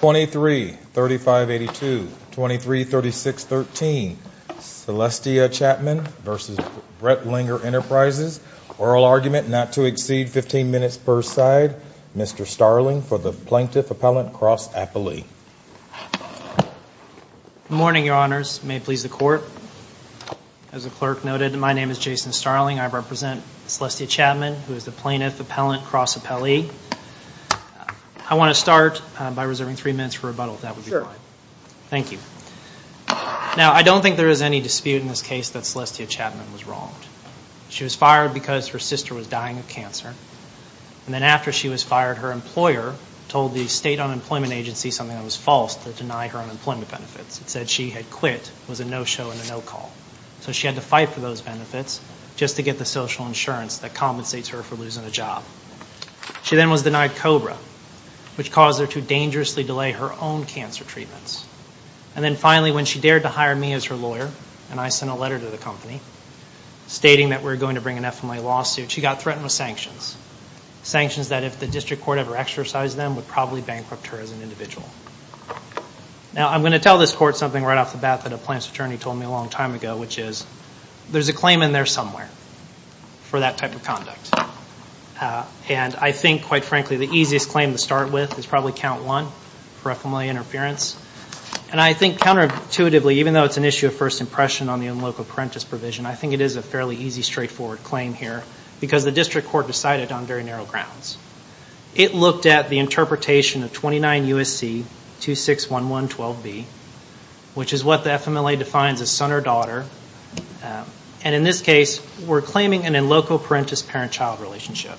233582, 233613, Celestia Chapman v. Brentlinger Enterprises. Oral argument not to exceed 15 minutes per side. Mr. Starling for the Plaintiff Appellant Cross Appellee. Good morning, your honors. May it please the court. As the clerk noted, my name is Jason Starling. I represent Celestia Chapman, who is the Plaintiff Appellant Cross Appellee. I want to start by reserving three minutes for rebuttal, if that would be fine. Thank you. Now, I don't think there is any dispute in this case that Celestia Chapman was wronged. She was fired because her sister was dying of cancer. And then after she was fired, her employer told the State Unemployment Agency something that was false to deny her unemployment benefits. It said she had quit, was a no-show and a no-call. So she had to fight for those benefits just to get the social insurance that compensates her for losing a job. She then was denied COBRA, which caused her to dangerously delay her own cancer treatments. And then finally, when she dared to hire me as her lawyer, and I sent a letter to the company, stating that we were going to bring an FMA lawsuit, she got threatened with sanctions. Sanctions that if the district court ever exercised them, would probably bankrupt her as an individual. Now, I'm going to tell this court something right off the bat that a plaintiff's attorney told me a long time ago, which is, there's a claim in there somewhere for that type of conduct. And I think, quite frankly, the easiest claim to start with is probably Count 1 for FMLA interference. And I think counterintuitively, even though it's an issue of first impression on the in loco parentis provision, I think it is a fairly easy, straightforward claim here, because the district court decided on very narrow grounds. It looked at the interpretation of 29 U.S.C. 261112B, which is what the FMLA defines as son or daughter. And in this case, we're claiming an in loco parentis parent-child relationship.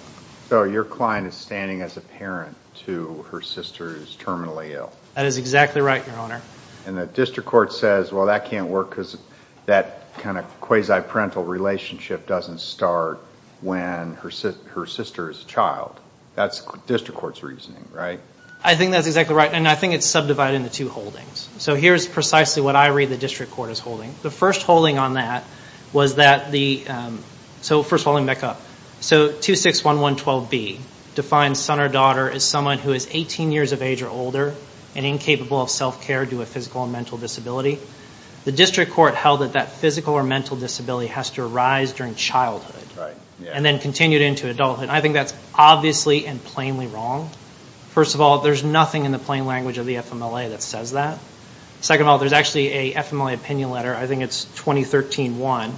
So your client is standing as a parent to her sister who's terminally ill. That is exactly right, Your Honor. And the district court says, well, that can't work because that kind of quasi-parental relationship doesn't start when her sister is a child. That's district court's reasoning, right? I think that's exactly right, and I think it's subdivided into two holdings. So here's precisely what I read the district court is holding. The first holding on that was that the ‑‑ so first of all, let me back up. So 261112B defines son or daughter as someone who is 18 years of age or older and incapable of self-care due to a physical or mental disability. The district court held that that physical or mental disability has to arise during childhood and then continued into adulthood. I think that's obviously and plainly wrong. First of all, there's nothing in the plain language of the FMLA that says that. Second of all, there's actually a FMLA opinion letter, I think it's 2013-1,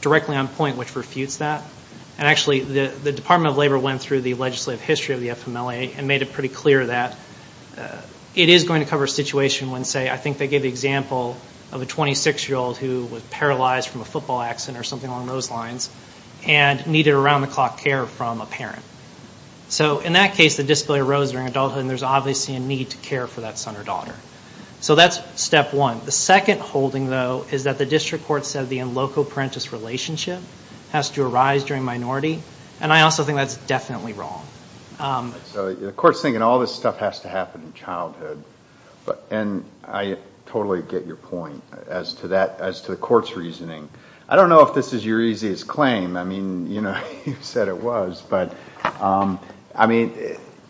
directly on point which refutes that. And actually, the Department of Labor went through the legislative history of the FMLA and made it pretty clear that it is going to cover a situation when, say, I think they gave the example of a 26-year-old who was paralyzed from a football accident or something along those lines and needed around‑the‑clock care from a parent. So in that case, the disability arose during adulthood and there's obviously a need to care for that son or daughter. So that's step one. The second holding, though, is that the district court said the in loco parentis relationship has to arise during minority. And I also think that's definitely wrong. So the court's thinking all this stuff has to happen in childhood. And I totally get your point as to the court's reasoning. I don't know if this is your easiest claim. I mean, you know, you said it was. But, I mean,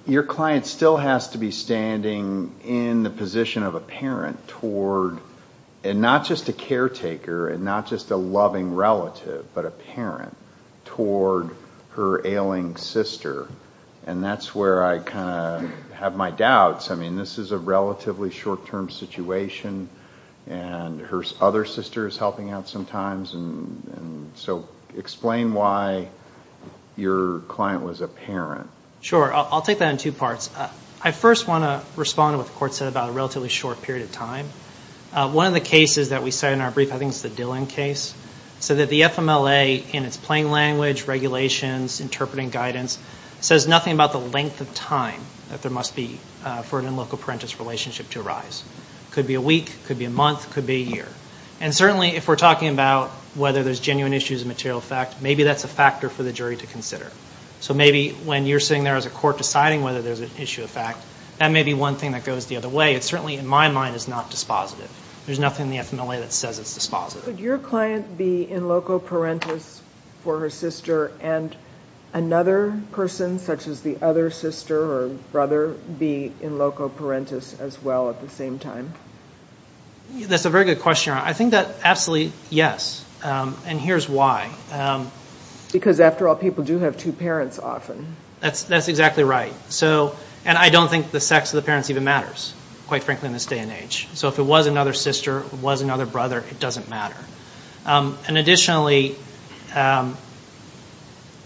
your client still has to be standing in the position of a parent toward, and not just a caretaker and not just a loving relative, but a parent, toward her ailing sister. And that's where I kind of have my doubts. I mean, this is a relatively short‑term situation and her other sister is helping out sometimes. So explain why your client was a parent. Sure. I'll take that in two parts. I first want to respond to what the court said about a relatively short period of time. One of the cases that we cite in our brief, I think it's the Dillon case, said that the FMLA in its plain language, regulations, interpreting guidance, says nothing about the length of time that there must be for an in loco parentis relationship to arise. Could be a week, could be a month, could be a year. And certainly if we're talking about whether there's genuine issues of material effect, maybe that's a factor for the jury to consider. So maybe when you're sitting there as a court deciding whether there's an issue of fact, that may be one thing that goes the other way. It certainly, in my mind, is not dispositive. There's nothing in the FMLA that says it's dispositive. Could your client be in loco parentis for her sister and another person such as the other sister or brother be in loco parentis as well at the same time? That's a very good question, Your Honor. I think that absolutely, yes. And here's why. Because after all, people do have two parents often. That's exactly right. And I don't think the sex of the parents even matters, quite frankly, in this day and age. So if it was another sister, it was another brother, it doesn't matter. And additionally,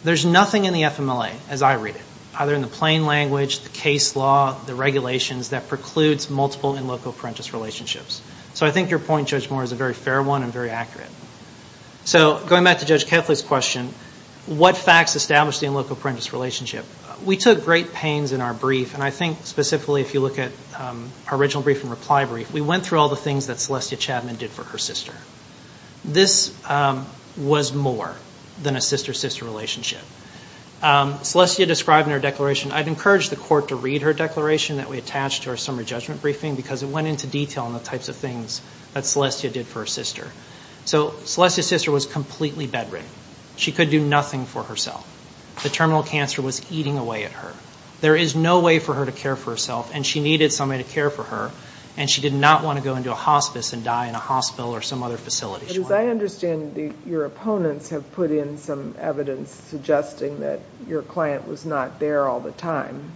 there's nothing in the FMLA, as I read it, either in the plain language, the case law, the regulations, that precludes multiple in loco parentis relationships. So I think your point, Judge Moore, is a very fair one and very accurate. So going back to Judge Kethley's question, what facts establish the in loco parentis relationship? We took great pains in our brief, and I think specifically if you look at our original brief and reply brief, we went through all the things that Celestia Chadman did for her sister. This was more than a sister-sister relationship. Celestia described in her declaration, I'd encourage the court to read her declaration that we attached to our summary judgment briefing, because it went into detail on the types of things that Celestia did for her sister. So Celestia's sister was completely bedridden. She could do nothing for herself. The terminal cancer was eating away at her. There is no way for her to care for herself, and she needed somebody to care for her, and she did not want to go into a hospice and die in a hospital or some other facility. But as I understand, your opponents have put in some evidence suggesting that your client was not there all the time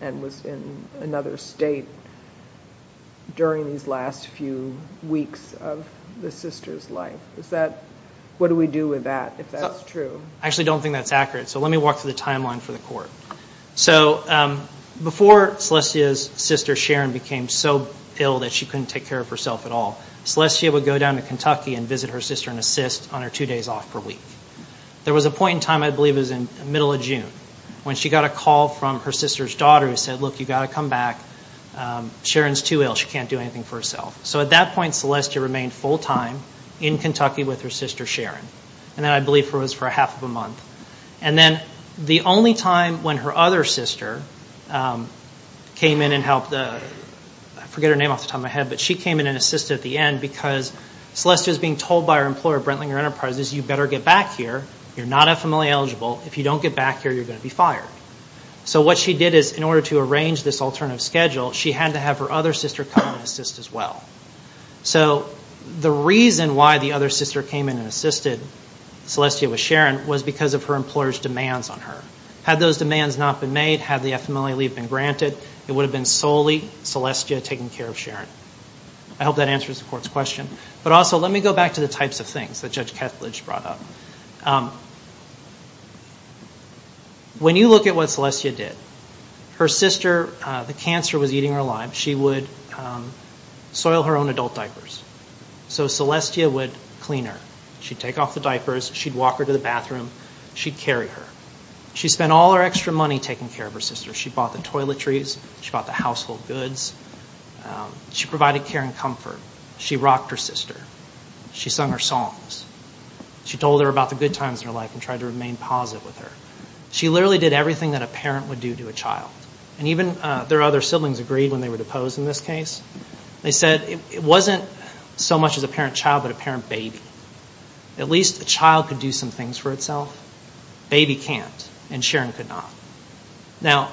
and was in another state during these last few weeks of the sister's life. What do we do with that, if that's true? I actually don't think that's accurate, so let me walk through the timeline for the court. So before Celestia's sister Sharon became so ill that she couldn't take care of herself at all, Celestia would go down to Kentucky and visit her sister and assist on her two days off per week. There was a point in time, I believe it was in the middle of June, when she got a call from her sister's daughter who said, look, you've got to come back. Sharon's too ill. She can't do anything for herself. So at that point, Celestia remained full-time in Kentucky with her sister Sharon. And that, I believe, was for half of a month. And then the only time when her other sister came in and helped, I forget her name off the top of my head, but she came in and assisted at the end because Celestia's being told by her employer, Brentlinger Enterprises, you better get back here. You're not FMLA eligible. If you don't get back here, you're going to be fired. So what she did is, in order to arrange this alternative schedule, she had to have her other sister come and assist as well. So the reason why the other sister came in and assisted Celestia with Sharon was because of her employer's demands on her. Had those demands not been made, had the FMLA leave been granted, it would have been solely Celestia taking care of Sharon. I hope that answers the court's question. But also, let me go back to the types of things that Judge Kethledge brought up. When you look at what Celestia did, her sister, the cancer was eating her alive. She would soil her own adult diapers. So Celestia would clean her. She'd take off the diapers. She'd walk her to the bathroom. She'd carry her. She spent all her extra money taking care of her sister. She bought the toiletries. She bought the household goods. She provided care and comfort. She rocked her sister. She sung her songs. She told her about the good times in her life and tried to remain positive with her. She literally did everything that a parent would do to a child. And even their other siblings agreed when they were deposed in this case. They said, it wasn't so much as a parent-child, but a parent-baby. At least a child could do some things for itself. A baby can't, and Sharon could not. Now,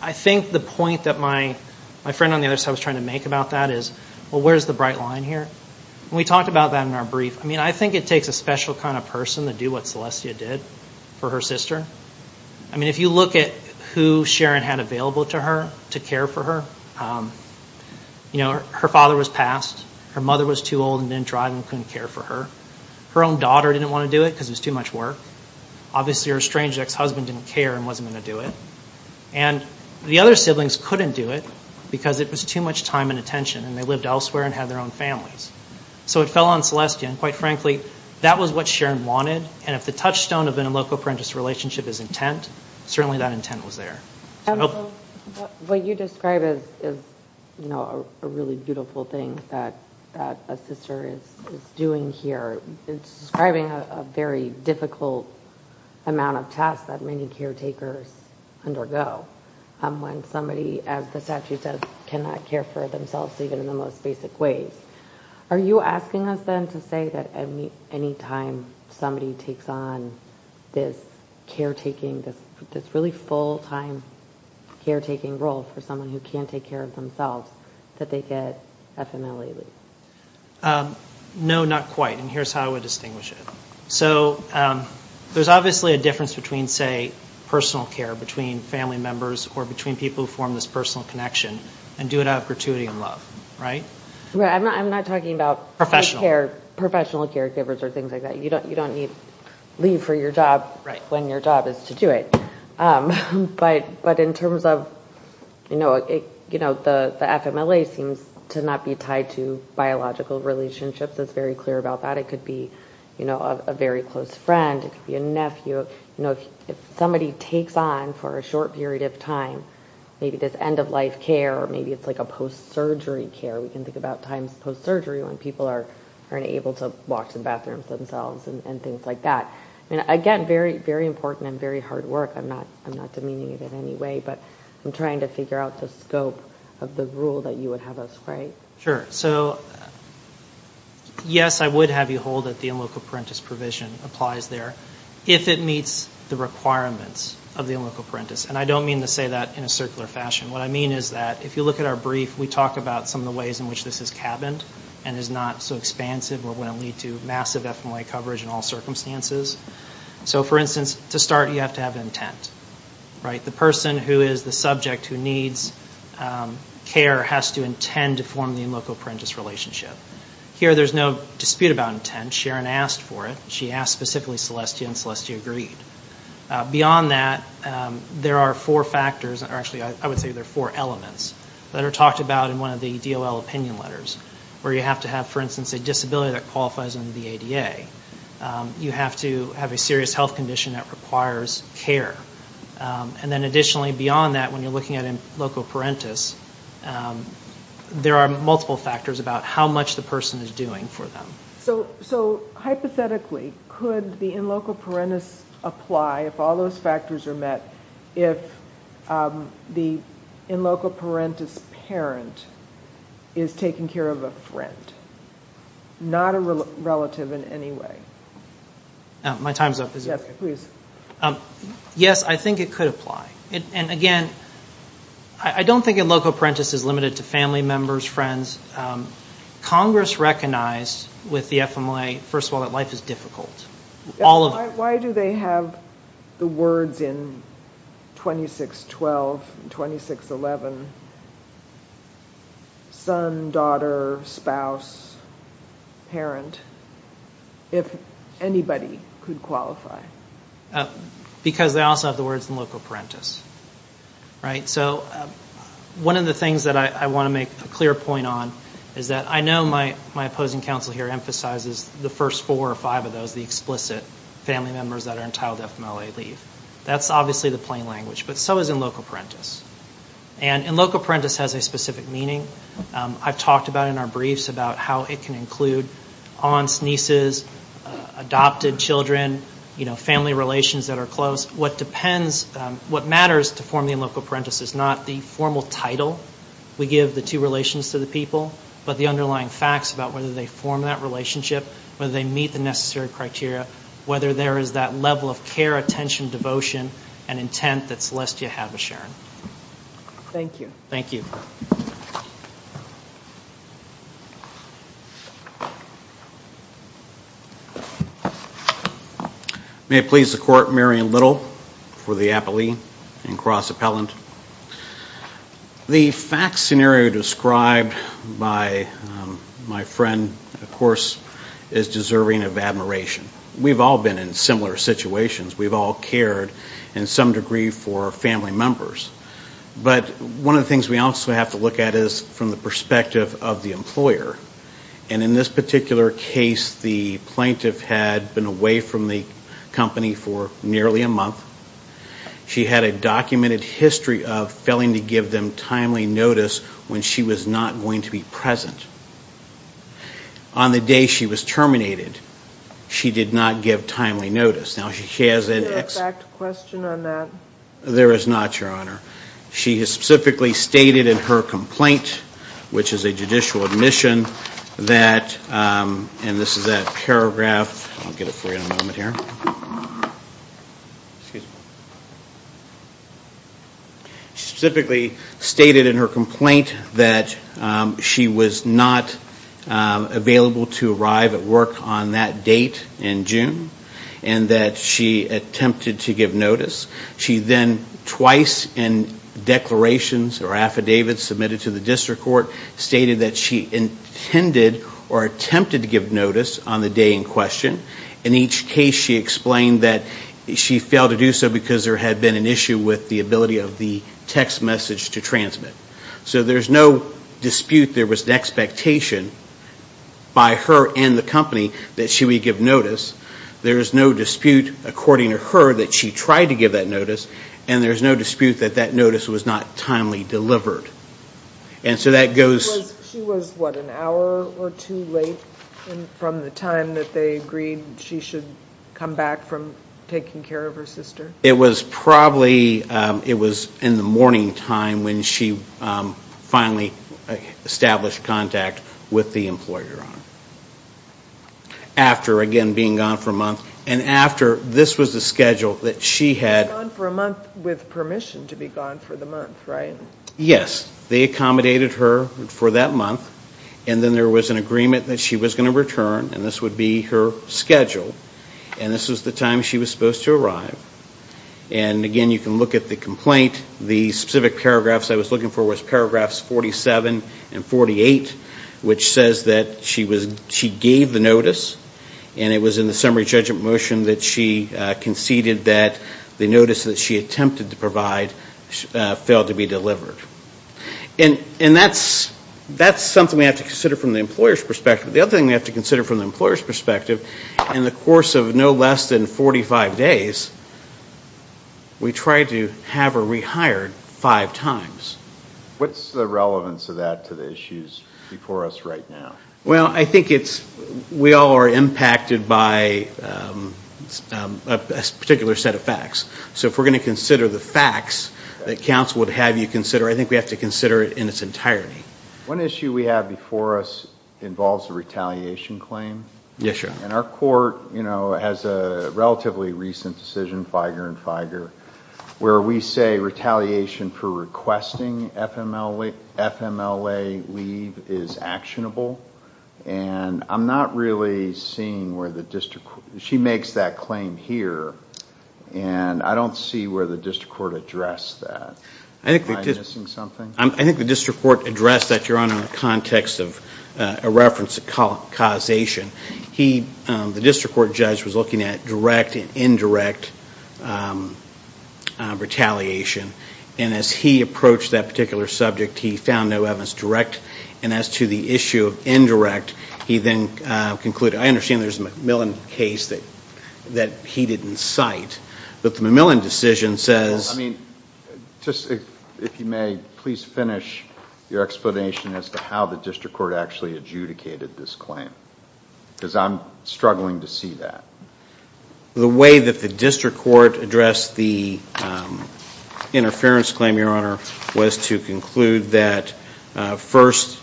I think the point that my friend on the other side was trying to make about that is, well, where's the bright line here? And we talked about that in our brief. I mean, I think it takes a special kind of person to do what Celestia did for her sister. I mean, if you look at who Sharon had available to her to care for her, you know, her father was passed. Her mother was too old and didn't drive and couldn't care for her. Her own daughter didn't want to do it because it was too much work. Obviously, her estranged ex-husband didn't care and wasn't going to do it. And the other siblings couldn't do it because it was too much time and attention, and they lived elsewhere and had their own families. So it fell on Celestia, and quite frankly, that was what Sharon wanted. And if the touchstone of an in loco parentis relationship is intent, certainly that intent was there. What you describe is, you know, a really beautiful thing that a sister is doing here. It's describing a very difficult amount of tasks that many caretakers undergo when somebody, as the statute says, cannot care for themselves, even in the most basic ways. Are you asking us then to say that any time somebody takes on this caretaking, this really full-time caretaking role for someone who can't take care of themselves, that they get FMLA leave? No, not quite. And here's how I would distinguish it. So there's obviously a difference between, say, personal care, between family members or between people who form this personal connection, and do it out of gratuity and love, right? I'm not talking about professional caregivers or things like that. You don't need leave for your job when your job is to do it. But in terms of, you know, the FMLA seems to not be tied to biological relationships. It's very clear about that. It could be a very close friend. It could be a nephew. If somebody takes on, for a short period of time, maybe this end-of-life care or maybe it's like a post-surgery care. We can think about times post-surgery when people aren't able to walk to the bathroom themselves and things like that. Again, very, very important and very hard work. I'm not demeaning it in any way, but I'm trying to figure out the scope of the rule that you would have us play. Sure. So, yes, I would have you hold that the in loco parentis provision applies there if it meets the requirements of the in loco parentis. And I don't mean to say that in a circular fashion. What I mean is that if you look at our brief, we talk about some of the ways in which this is cabined and is not so expansive or wouldn't lead to massive FMLA coverage in all circumstances. So, for instance, to start you have to have intent, right? The person who is the subject who needs care has to intend to form the in loco parentis relationship. Here there's no dispute about intent. Sharon asked for it. She asked specifically Celestia, and Celestia agreed. Beyond that, there are four factors. Actually, I would say there are four elements that are talked about in one of the DOL opinion letters where you have to have, for instance, a disability that qualifies under the ADA. You have to have a serious health condition that requires care. And then additionally, beyond that, when you're looking at in loco parentis, there are multiple factors about how much the person is doing for them. So, hypothetically, could the in loco parentis apply if all those factors are met if the in loco parentis parent is taking care of a friend, not a relative in any way? My time's up. Yes, please. Yes, I think it could apply. And, again, I don't think in loco parentis is limited to family members, friends. Congress recognized with the FMLA, first of all, that life is difficult. Why do they have the words in 2612 and 2611, son, daughter, spouse, parent, if anybody could qualify? Because they also have the words in loco parentis. So one of the things that I want to make a clear point on is that I know my opposing counsel here is the first four or five of those, the explicit family members that are entitled to FMLA leave. That's obviously the plain language, but so is in loco parentis. And in loco parentis has a specific meaning. I've talked about it in our briefs about how it can include aunts, nieces, adopted children, family relations that are close. What matters to form the in loco parentis is not the formal title we give the two relations to the people, but the underlying facts about whether they form that relationship, whether they meet the necessary criteria, whether there is that level of care, attention, devotion, and intent that Celestia had with Sharon. Thank you. Thank you. May it please the Court, Marion Little for the appellee and cross-appellant. The fact scenario described by my friend, of course, is deserving of admiration. We've all been in similar situations. We've all cared in some degree for family members. But one of the things we also have to look at is from the perspective of the employer. And in this particular case, the plaintiff had been away from the company for nearly a month. She had a documented history of failing to give them timely notice when she was not going to be present. On the day she was terminated, she did not give timely notice. Now, she has an ex- Is there a fact question on that? There is not, Your Honor. She has specifically stated in her complaint, which is a judicial admission, that, and this is that paragraph, I'll get it for you in a moment here. She specifically stated in her complaint that she was not available to arrive at work on that date in June, and that she attempted to give notice. She then twice in declarations or affidavits submitted to the district court, stated that she intended or attempted to give notice on the day in question. In each case, she explained that she failed to do so because there had been an issue with the ability of the text message to transmit. So there's no dispute there was an expectation by her and the company that she would give notice. There is no dispute, according to her, that she tried to give that notice. And there's no dispute that that notice was not timely delivered. And so that goes- She was, what, an hour or two late from the time that they agreed she should come back from taking care of her sister? It was probably, it was in the morning time when she finally established contact with the employer, Your Honor. After, again, being gone for a month. And after, this was the schedule that she had- Gone for a month with permission to be gone for the month, right? Yes. They accommodated her for that month. And then there was an agreement that she was going to return. And this would be her schedule. And this was the time she was supposed to arrive. And, again, you can look at the complaint. The specific paragraphs I was looking for was paragraphs 47 and 48, which says that she gave the notice. And it was in the summary judgment motion that she conceded that the notice that she attempted to provide failed to be delivered. And that's something we have to consider from the employer's perspective. The other thing we have to consider from the employer's perspective, in the course of no less than 45 days, we tried to have her rehired five times. What's the relevance of that to the issues before us right now? Well, I think we all are impacted by a particular set of facts. So if we're going to consider the facts that counsel would have you consider, I think we have to consider it in its entirety. One issue we have before us involves a retaliation claim. Yes, sir. And our court has a relatively recent decision, Feiger and Feiger, where we say retaliation for requesting FMLA leave is actionable. And I'm not really seeing where the district court – she makes that claim here. And I don't see where the district court addressed that. Am I missing something? I think the district court addressed that, Your Honor, in the context of a reference to causation. The district court judge was looking at direct and indirect retaliation. And as he approached that particular subject, he found no evidence direct. And as to the issue of indirect, he then concluded – I understand there's a McMillan case that he didn't cite. But the McMillan decision says – Just, if you may, please finish your explanation as to how the district court actually adjudicated this claim. Because I'm struggling to see that. The way that the district court addressed the interference claim, Your Honor, was to conclude that first,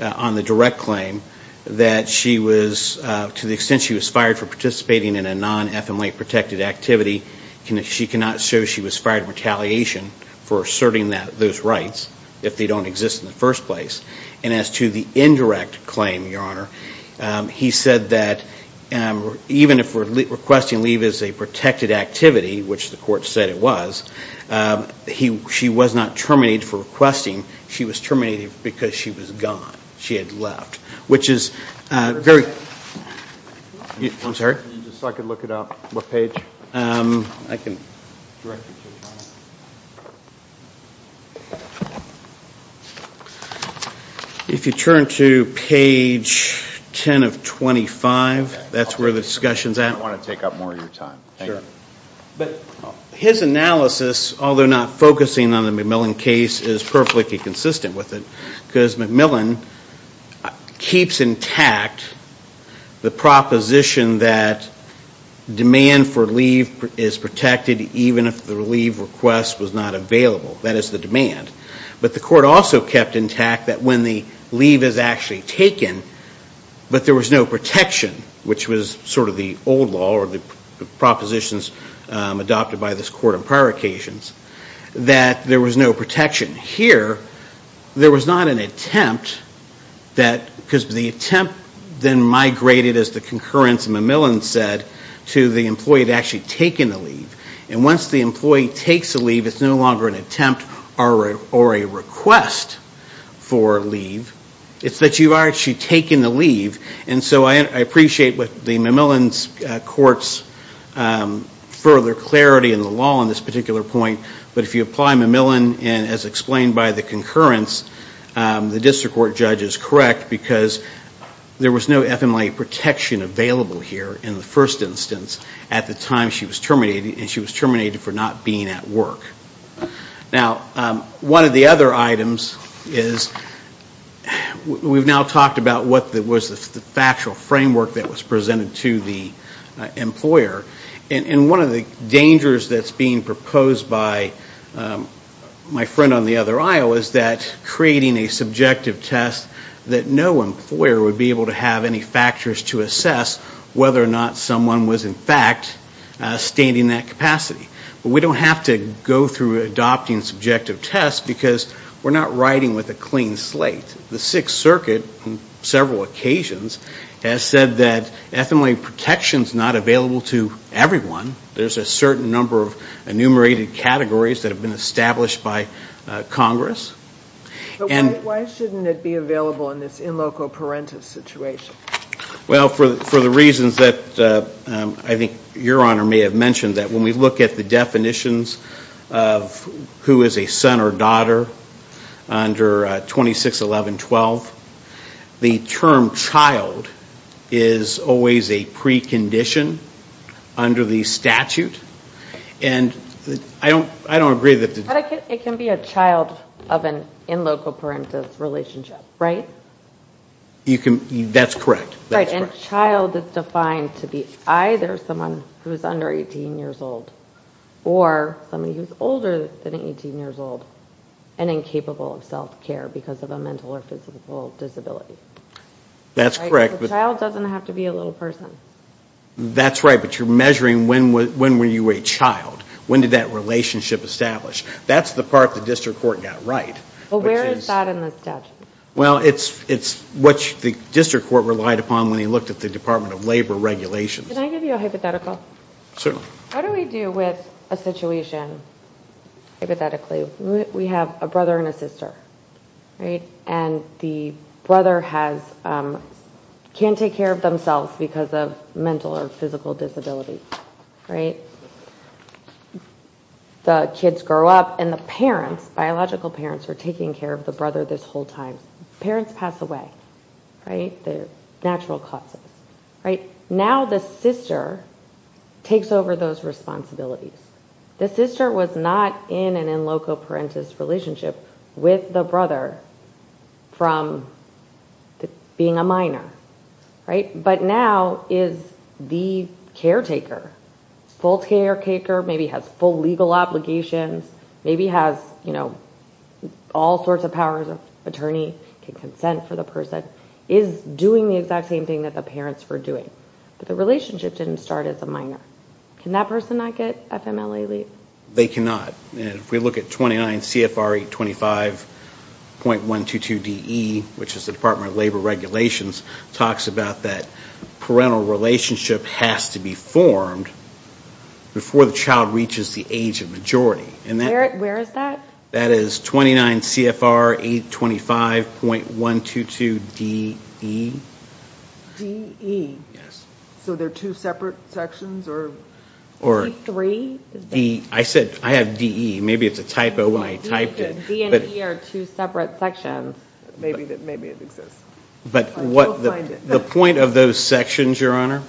on the direct claim, that she was – to the extent she was fired for participating in a non-FMLA-protected activity, she cannot show she was fired in retaliation for asserting those rights if they don't exist in the first place. And as to the indirect claim, Your Honor, he said that even if requesting leave is a protected activity, which the court said it was, she was not terminated for requesting. She was terminated because she was gone. She had left. Which is very – I'm sorry? Just so I could look it up, what page? I can – If you turn to page 10 of 25, that's where the discussion's at. I don't want to take up more of your time. Sure. But his analysis, although not focusing on the McMillan case, is perfectly consistent with it. Because McMillan keeps intact the proposition that demand for leave is protected even if the leave request was not available. That is the demand. But the court also kept intact that when the leave is actually taken, but there was no protection, which was sort of the old law or the propositions adopted by this court on prior occasions, that there was no protection. Here, there was not an attempt that – because the attempt then migrated, as the concurrence of McMillan said, to the employee that had actually taken the leave. And once the employee takes a leave, it's no longer an attempt or a request for leave. It's that you've actually taken the leave. And so I appreciate the McMillan court's further clarity in the law on this particular point. But if you apply McMillan, and as explained by the concurrence, the district court judge is correct because there was no FMLA protection available here in the first instance at the time she was terminated. And she was terminated for not being at work. Now, one of the other items is we've now talked about what was the factual framework that was presented to the employer. And one of the dangers that's being proposed by my friend on the other aisle is that creating a subjective test that no employer would be able to have any factors to assess whether or not someone was in fact standing that capacity. But we don't have to go through adopting subjective tests because we're not riding with a clean slate. The Sixth Circuit on several occasions has said that FMLA protection is not available to everyone. There's a certain number of enumerated categories that have been established by Congress. But why shouldn't it be available in this in loco parentis situation? Well, for the reasons that I think Your Honor may have mentioned, that when we look at the definitions of who is a son or daughter under 2611.12, the term child is always a precondition under the statute. And I don't agree that the... But it can be a child of an in loco parentis relationship, right? That's correct. Right, and child is defined to be either someone who is under 18 years old or somebody who is older than 18 years old and incapable of self-care because of a mental or physical disability. That's correct. A child doesn't have to be a little person. That's right, but you're measuring when were you a child? When did that relationship establish? That's the part the district court got right. Well, where is that in the statute? Well, it's what the district court relied upon when they looked at the Department of Labor regulations. Can I give you a hypothetical? Certainly. What do we do with a situation hypothetically? We have a brother and a sister, right? And the brother can't take care of themselves because of mental or physical disability, right? The kids grow up and the parents, biological parents, are taking care of the brother this whole time. Parents pass away, right? They're natural causes, right? Now the sister takes over those responsibilities. The sister was not in an in loco parentis relationship with the brother from being a minor, right? But now is the caretaker, full caretaker, maybe has full legal obligations, maybe has all sorts of powers of attorney, can consent for the person, is doing the exact same thing that the parents were doing. But the relationship didn't start as a minor. Can that person not get FMLA leave? They cannot. If we look at 29 CFR 825.122DE, which is the Department of Labor regulations, talks about that parental relationship has to be formed before the child reaches the age of majority. Where is that? That is 29 CFR 825.122DE. DE? Yes. So they're two separate sections? D3? I said I have DE. Maybe it's a typo when I typed it. D and E are two separate sections. Maybe it exists. But the point of those sections, Your Honor,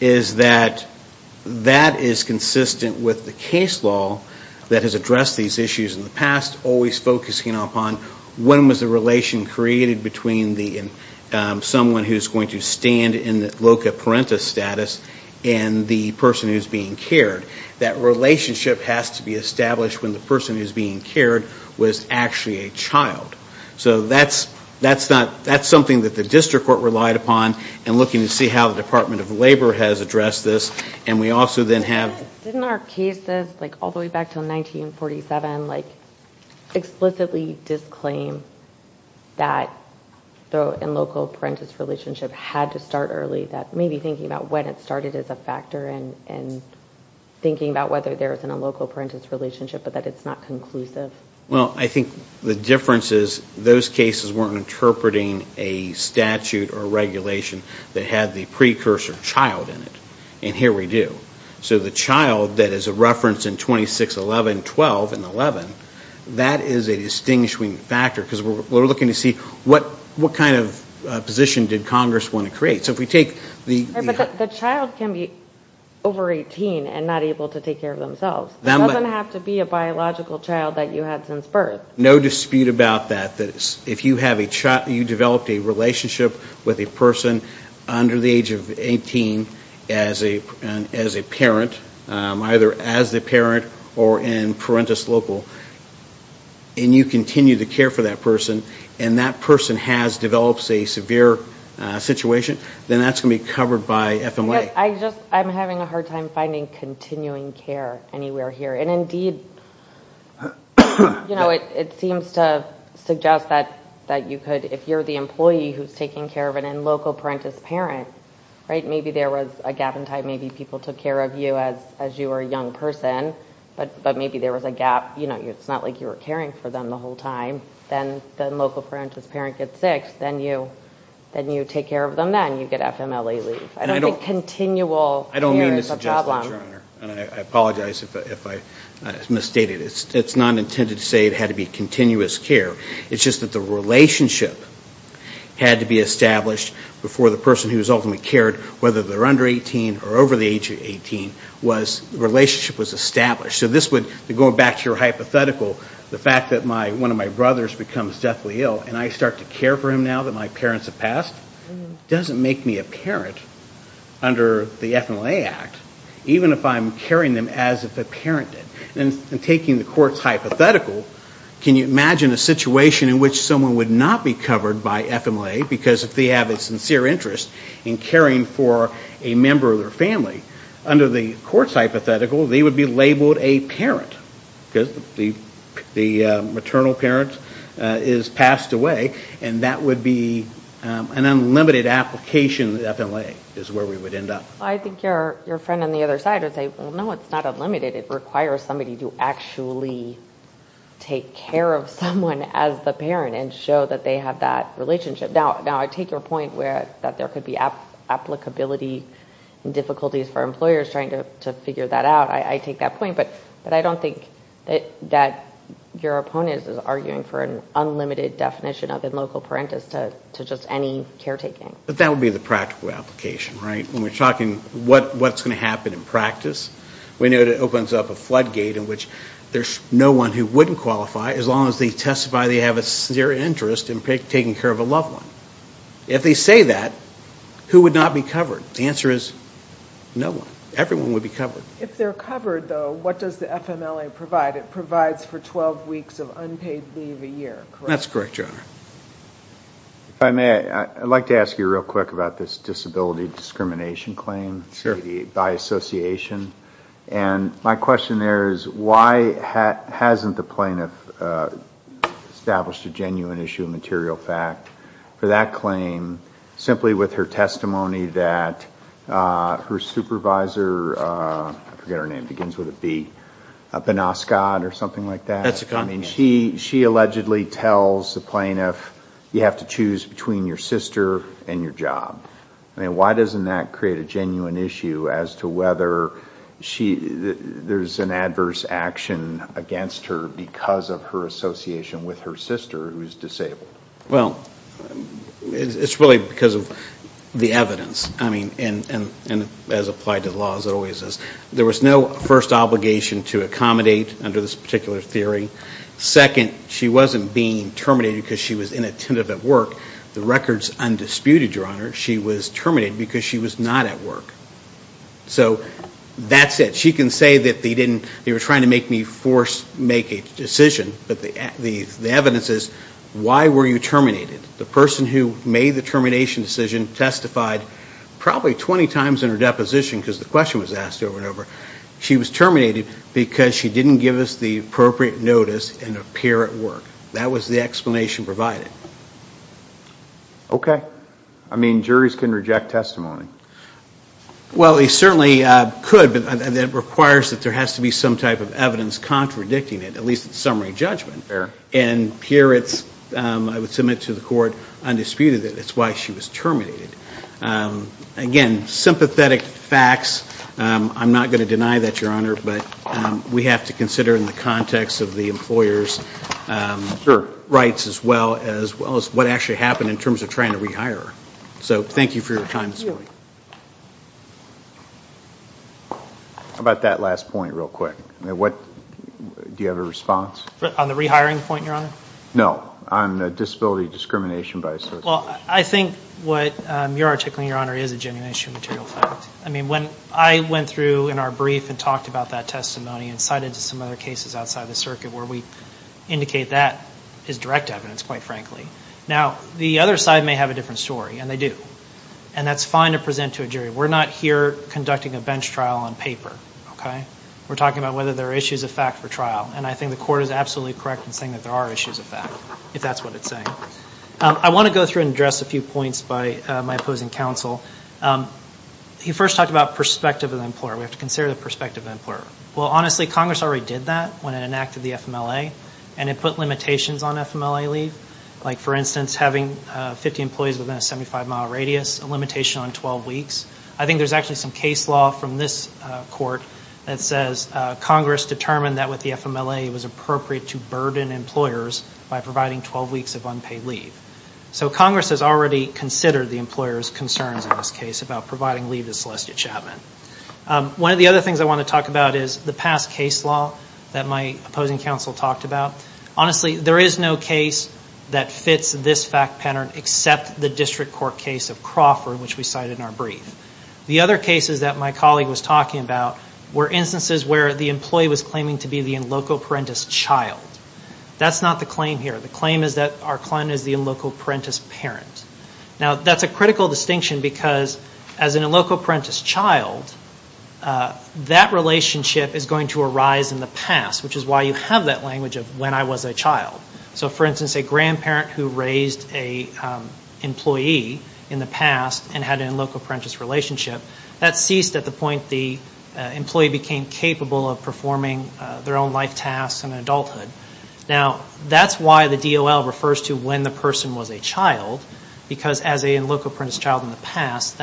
is that that is consistent with the case law that has addressed these issues in the past, always focusing upon when was the relation created between someone who's going to stand in loco parentis status and the person who's being cared. That relationship has to be established when the person who's being cared was actually a child. So that's something that the district court relied upon in looking to see how the Department of Labor has addressed this. And we also then have... Didn't our cases, like all the way back to 1947, like explicitly disclaim that loco parentis relationship had to start early, maybe thinking about when it started as a factor and thinking about whether there's a loco parentis relationship but that it's not conclusive. Well, I think the difference is those cases weren't interpreting a statute or regulation that had the precursor child in it. And here we do. So the child that is a reference in 2611.12 and 11, that is a distinguishing factor because we're looking to see what kind of position did Congress want to create. But the child can be over 18 and not able to take care of themselves. It doesn't have to be a biological child that you had since birth. No dispute about that. If you developed a relationship with a person under the age of 18 as a parent, either as a parent or in parentis loco, and you continue to care for that person, and that person has developed a severe situation, then that's going to be covered by FMLA. I'm having a hard time finding continuing care anywhere here. And, indeed, it seems to suggest that you could, if you're the employee who's taking care of a loco parentis parent, maybe there was a gap in time. Maybe people took care of you as you were a young person, but maybe there was a gap. It's not like you were caring for them the whole time. Then loco parentis parent gets sick. Then you take care of them. Then you get FMLA leave. I don't think continual care is a problem. I don't mean to suggest that, Your Honor, and I apologize if I misstated. It's not intended to say it had to be continuous care. It's just that the relationship had to be established before the person who was ultimately cared, whether they're under 18 or over the age of 18, the relationship was established. So this would, going back to your hypothetical, the fact that one of my brothers becomes deathly ill and I start to care for him now that my parents have passed, doesn't make me a parent under the FMLA Act, even if I'm caring them as if a parent did. And taking the court's hypothetical, can you imagine a situation in which someone would not be covered by FMLA because if they have a sincere interest in caring for a member of their family, under the court's hypothetical, they would be labeled a parent because the maternal parent is passed away, and that would be an unlimited application of FMLA is where we would end up. I think your friend on the other side would say, well, no, it's not unlimited. It requires somebody to actually take care of someone as the parent and show that they have that relationship. Now, I take your point that there could be applicability and difficulties for employers trying to figure that out. I take that point, but I don't think that your opponent is arguing for an unlimited definition of a local parent as to just any caretaking. But that would be the practical application, right? When we're talking what's going to happen in practice, we know that it opens up a floodgate in which there's no one who wouldn't qualify as long as they testify they have a sincere interest in taking care of a loved one. If they say that, who would not be covered? The answer is no one. Everyone would be covered. If they're covered, though, what does the FMLA provide? It provides for 12 weeks of unpaid leave a year, correct? That's correct, Your Honor. If I may, I'd like to ask you real quick about this disability discrimination claim by association. My question there is why hasn't the plaintiff established a genuine issue of material fact for that claim simply with her testimony that her supervisor, I forget her name, begins with a B, Benascot or something like that? That's a con. She allegedly tells the plaintiff, you have to choose between your sister and your job. Why doesn't that create a genuine issue as to whether there's an adverse action against her because of her association with her sister who's disabled? Well, it's really because of the evidence. And as applied to the law, as it always is. There was no first obligation to accommodate under this particular theory. Second, she wasn't being terminated because she was inattentive at work. The record's undisputed, Your Honor. She was terminated because she was not at work. So that's it. She can say that they were trying to make me force make a decision, but the evidence is why were you terminated? The person who made the termination decision testified probably 20 times in her deposition because the question was asked over and over. She was terminated because she didn't give us the appropriate notice and appear at work. That was the explanation provided. I mean, juries can reject testimony. Well, they certainly could, but it requires that there has to be some type of evidence contradicting it, at least in summary judgment. Fair. And here it's, I would submit to the court, undisputed that it's why she was terminated. Again, sympathetic facts. I'm not going to deny that, Your Honor, but we have to consider in the context of the employer's rights as well as what actually happened in terms of trying to rehire her. So thank you for your time this morning. How about that last point real quick? Do you have a response? On the rehiring point, Your Honor? No, on disability discrimination by association. Well, I think what you're articulating, Your Honor, is a genuine issue of material facts. I mean, when I went through in our brief and talked about that testimony and cited some other cases outside the circuit where we indicate that is direct evidence, quite frankly. Now, the other side may have a different story, and they do. And that's fine to present to a jury. We're not here conducting a bench trial on paper, okay? We're talking about whether there are issues of fact for trial. And I think the court is absolutely correct in saying that there are issues of fact, if that's what it's saying. I want to go through and address a few points by my opposing counsel. He first talked about perspective of the employer. We have to consider the perspective of the employer. Well, honestly, Congress already did that when it enacted the FMLA, and it put limitations on FMLA leave. Like, for instance, having 50 employees within a 75-mile radius, a limitation on 12 weeks. I think there's actually some case law from this court that says Congress determined that with the FMLA, it was appropriate to burden employers by providing 12 weeks of unpaid leave. So Congress has already considered the employer's concerns in this case about providing leave to Celestia Chapman. One of the other things I want to talk about is the past case law that my opposing counsel talked about. Honestly, there is no case that fits this fact pattern except the district court case of Crawford, which we cited in our brief. The other cases that my colleague was talking about were instances where the employee was claiming to be the in loco parentis child. That's not the claim here. The claim is that our client is the in loco parentis parent. Now, that's a critical distinction because as an in loco parentis child, that relationship is going to arise in the past, which is why you have that language of when I was a child. So, for instance, a grandparent who raised an employee in the past and had an in loco parentis relationship, that ceased at the point the employee became capable of performing their own life tasks in adulthood. Now, that's why the DOL refers to when the person was a child because as a in loco parentis child in the past,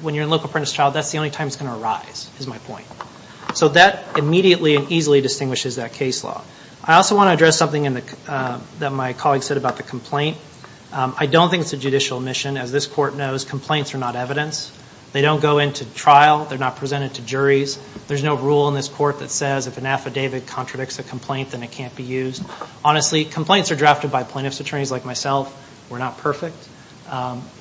when you're in loco parentis child, that's the only time it's going to arise, is my point. So that immediately and easily distinguishes that case law. I also want to address something that my colleague said about the complaint. I don't think it's a judicial omission. As this court knows, complaints are not evidence. They don't go into trial. They're not presented to juries. There's no rule in this court that says if an affidavit contradicts a complaint, then it can't be used. Honestly, complaints are drafted by plaintiff's attorneys like myself. We're not perfect.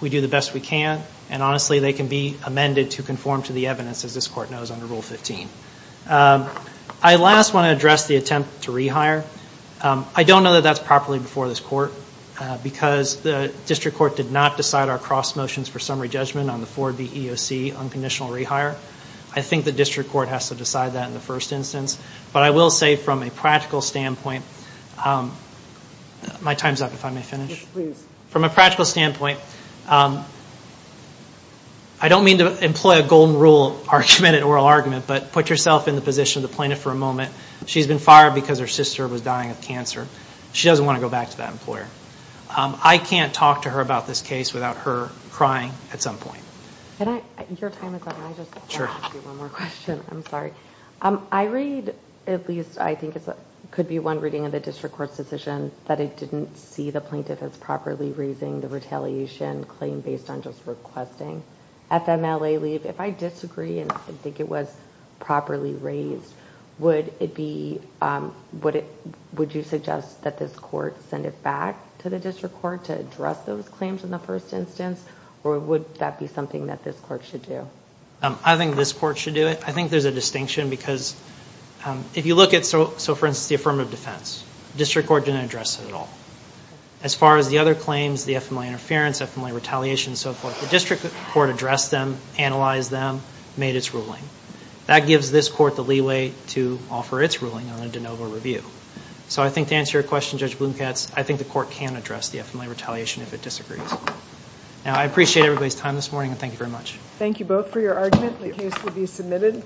We do the best we can, and honestly, they can be amended to conform to the evidence, as this court knows, under Rule 15. I last want to address the attempt to rehire. I don't know that that's properly before this court because the district court did not decide our cross motions for summary judgment on the 4BEOC unconditional rehire. I think the district court has to decide that in the first instance. But I will say from a practical standpoint, my time's up if I may finish. Yes, please. From a practical standpoint, I don't mean to employ a golden rule argument or oral argument, but put yourself in the position of the plaintiff for a moment. She's been fired because her sister was dying of cancer. She doesn't want to go back to that employer. I can't talk to her about this case without her crying at some point. Your time is up. Can I just ask you one more question? I'm sorry. I read, at least I think it could be one reading of the district court's decision, that it didn't see the plaintiff as properly raising the retaliation claim based on just requesting FMLA leave. If I disagree and think it was properly raised, would you suggest that this court send it back to the district court to address those claims in the first instance, or would that be something that this court should do? I think this court should do it. I think there's a distinction because if you look at, for instance, the affirmative defense, the district court didn't address it at all. As far as the other claims, the FMLA interference, FMLA retaliation and so forth, the district court addressed them, analyzed them, made its ruling. That gives this court the leeway to offer its ruling on a de novo review. So I think to answer your question, Judge Blomkatz, I think the court can address the FMLA retaliation if it disagrees. Now, I appreciate everybody's time this morning, and thank you very much. Thank you both for your argument. The case will be submitted.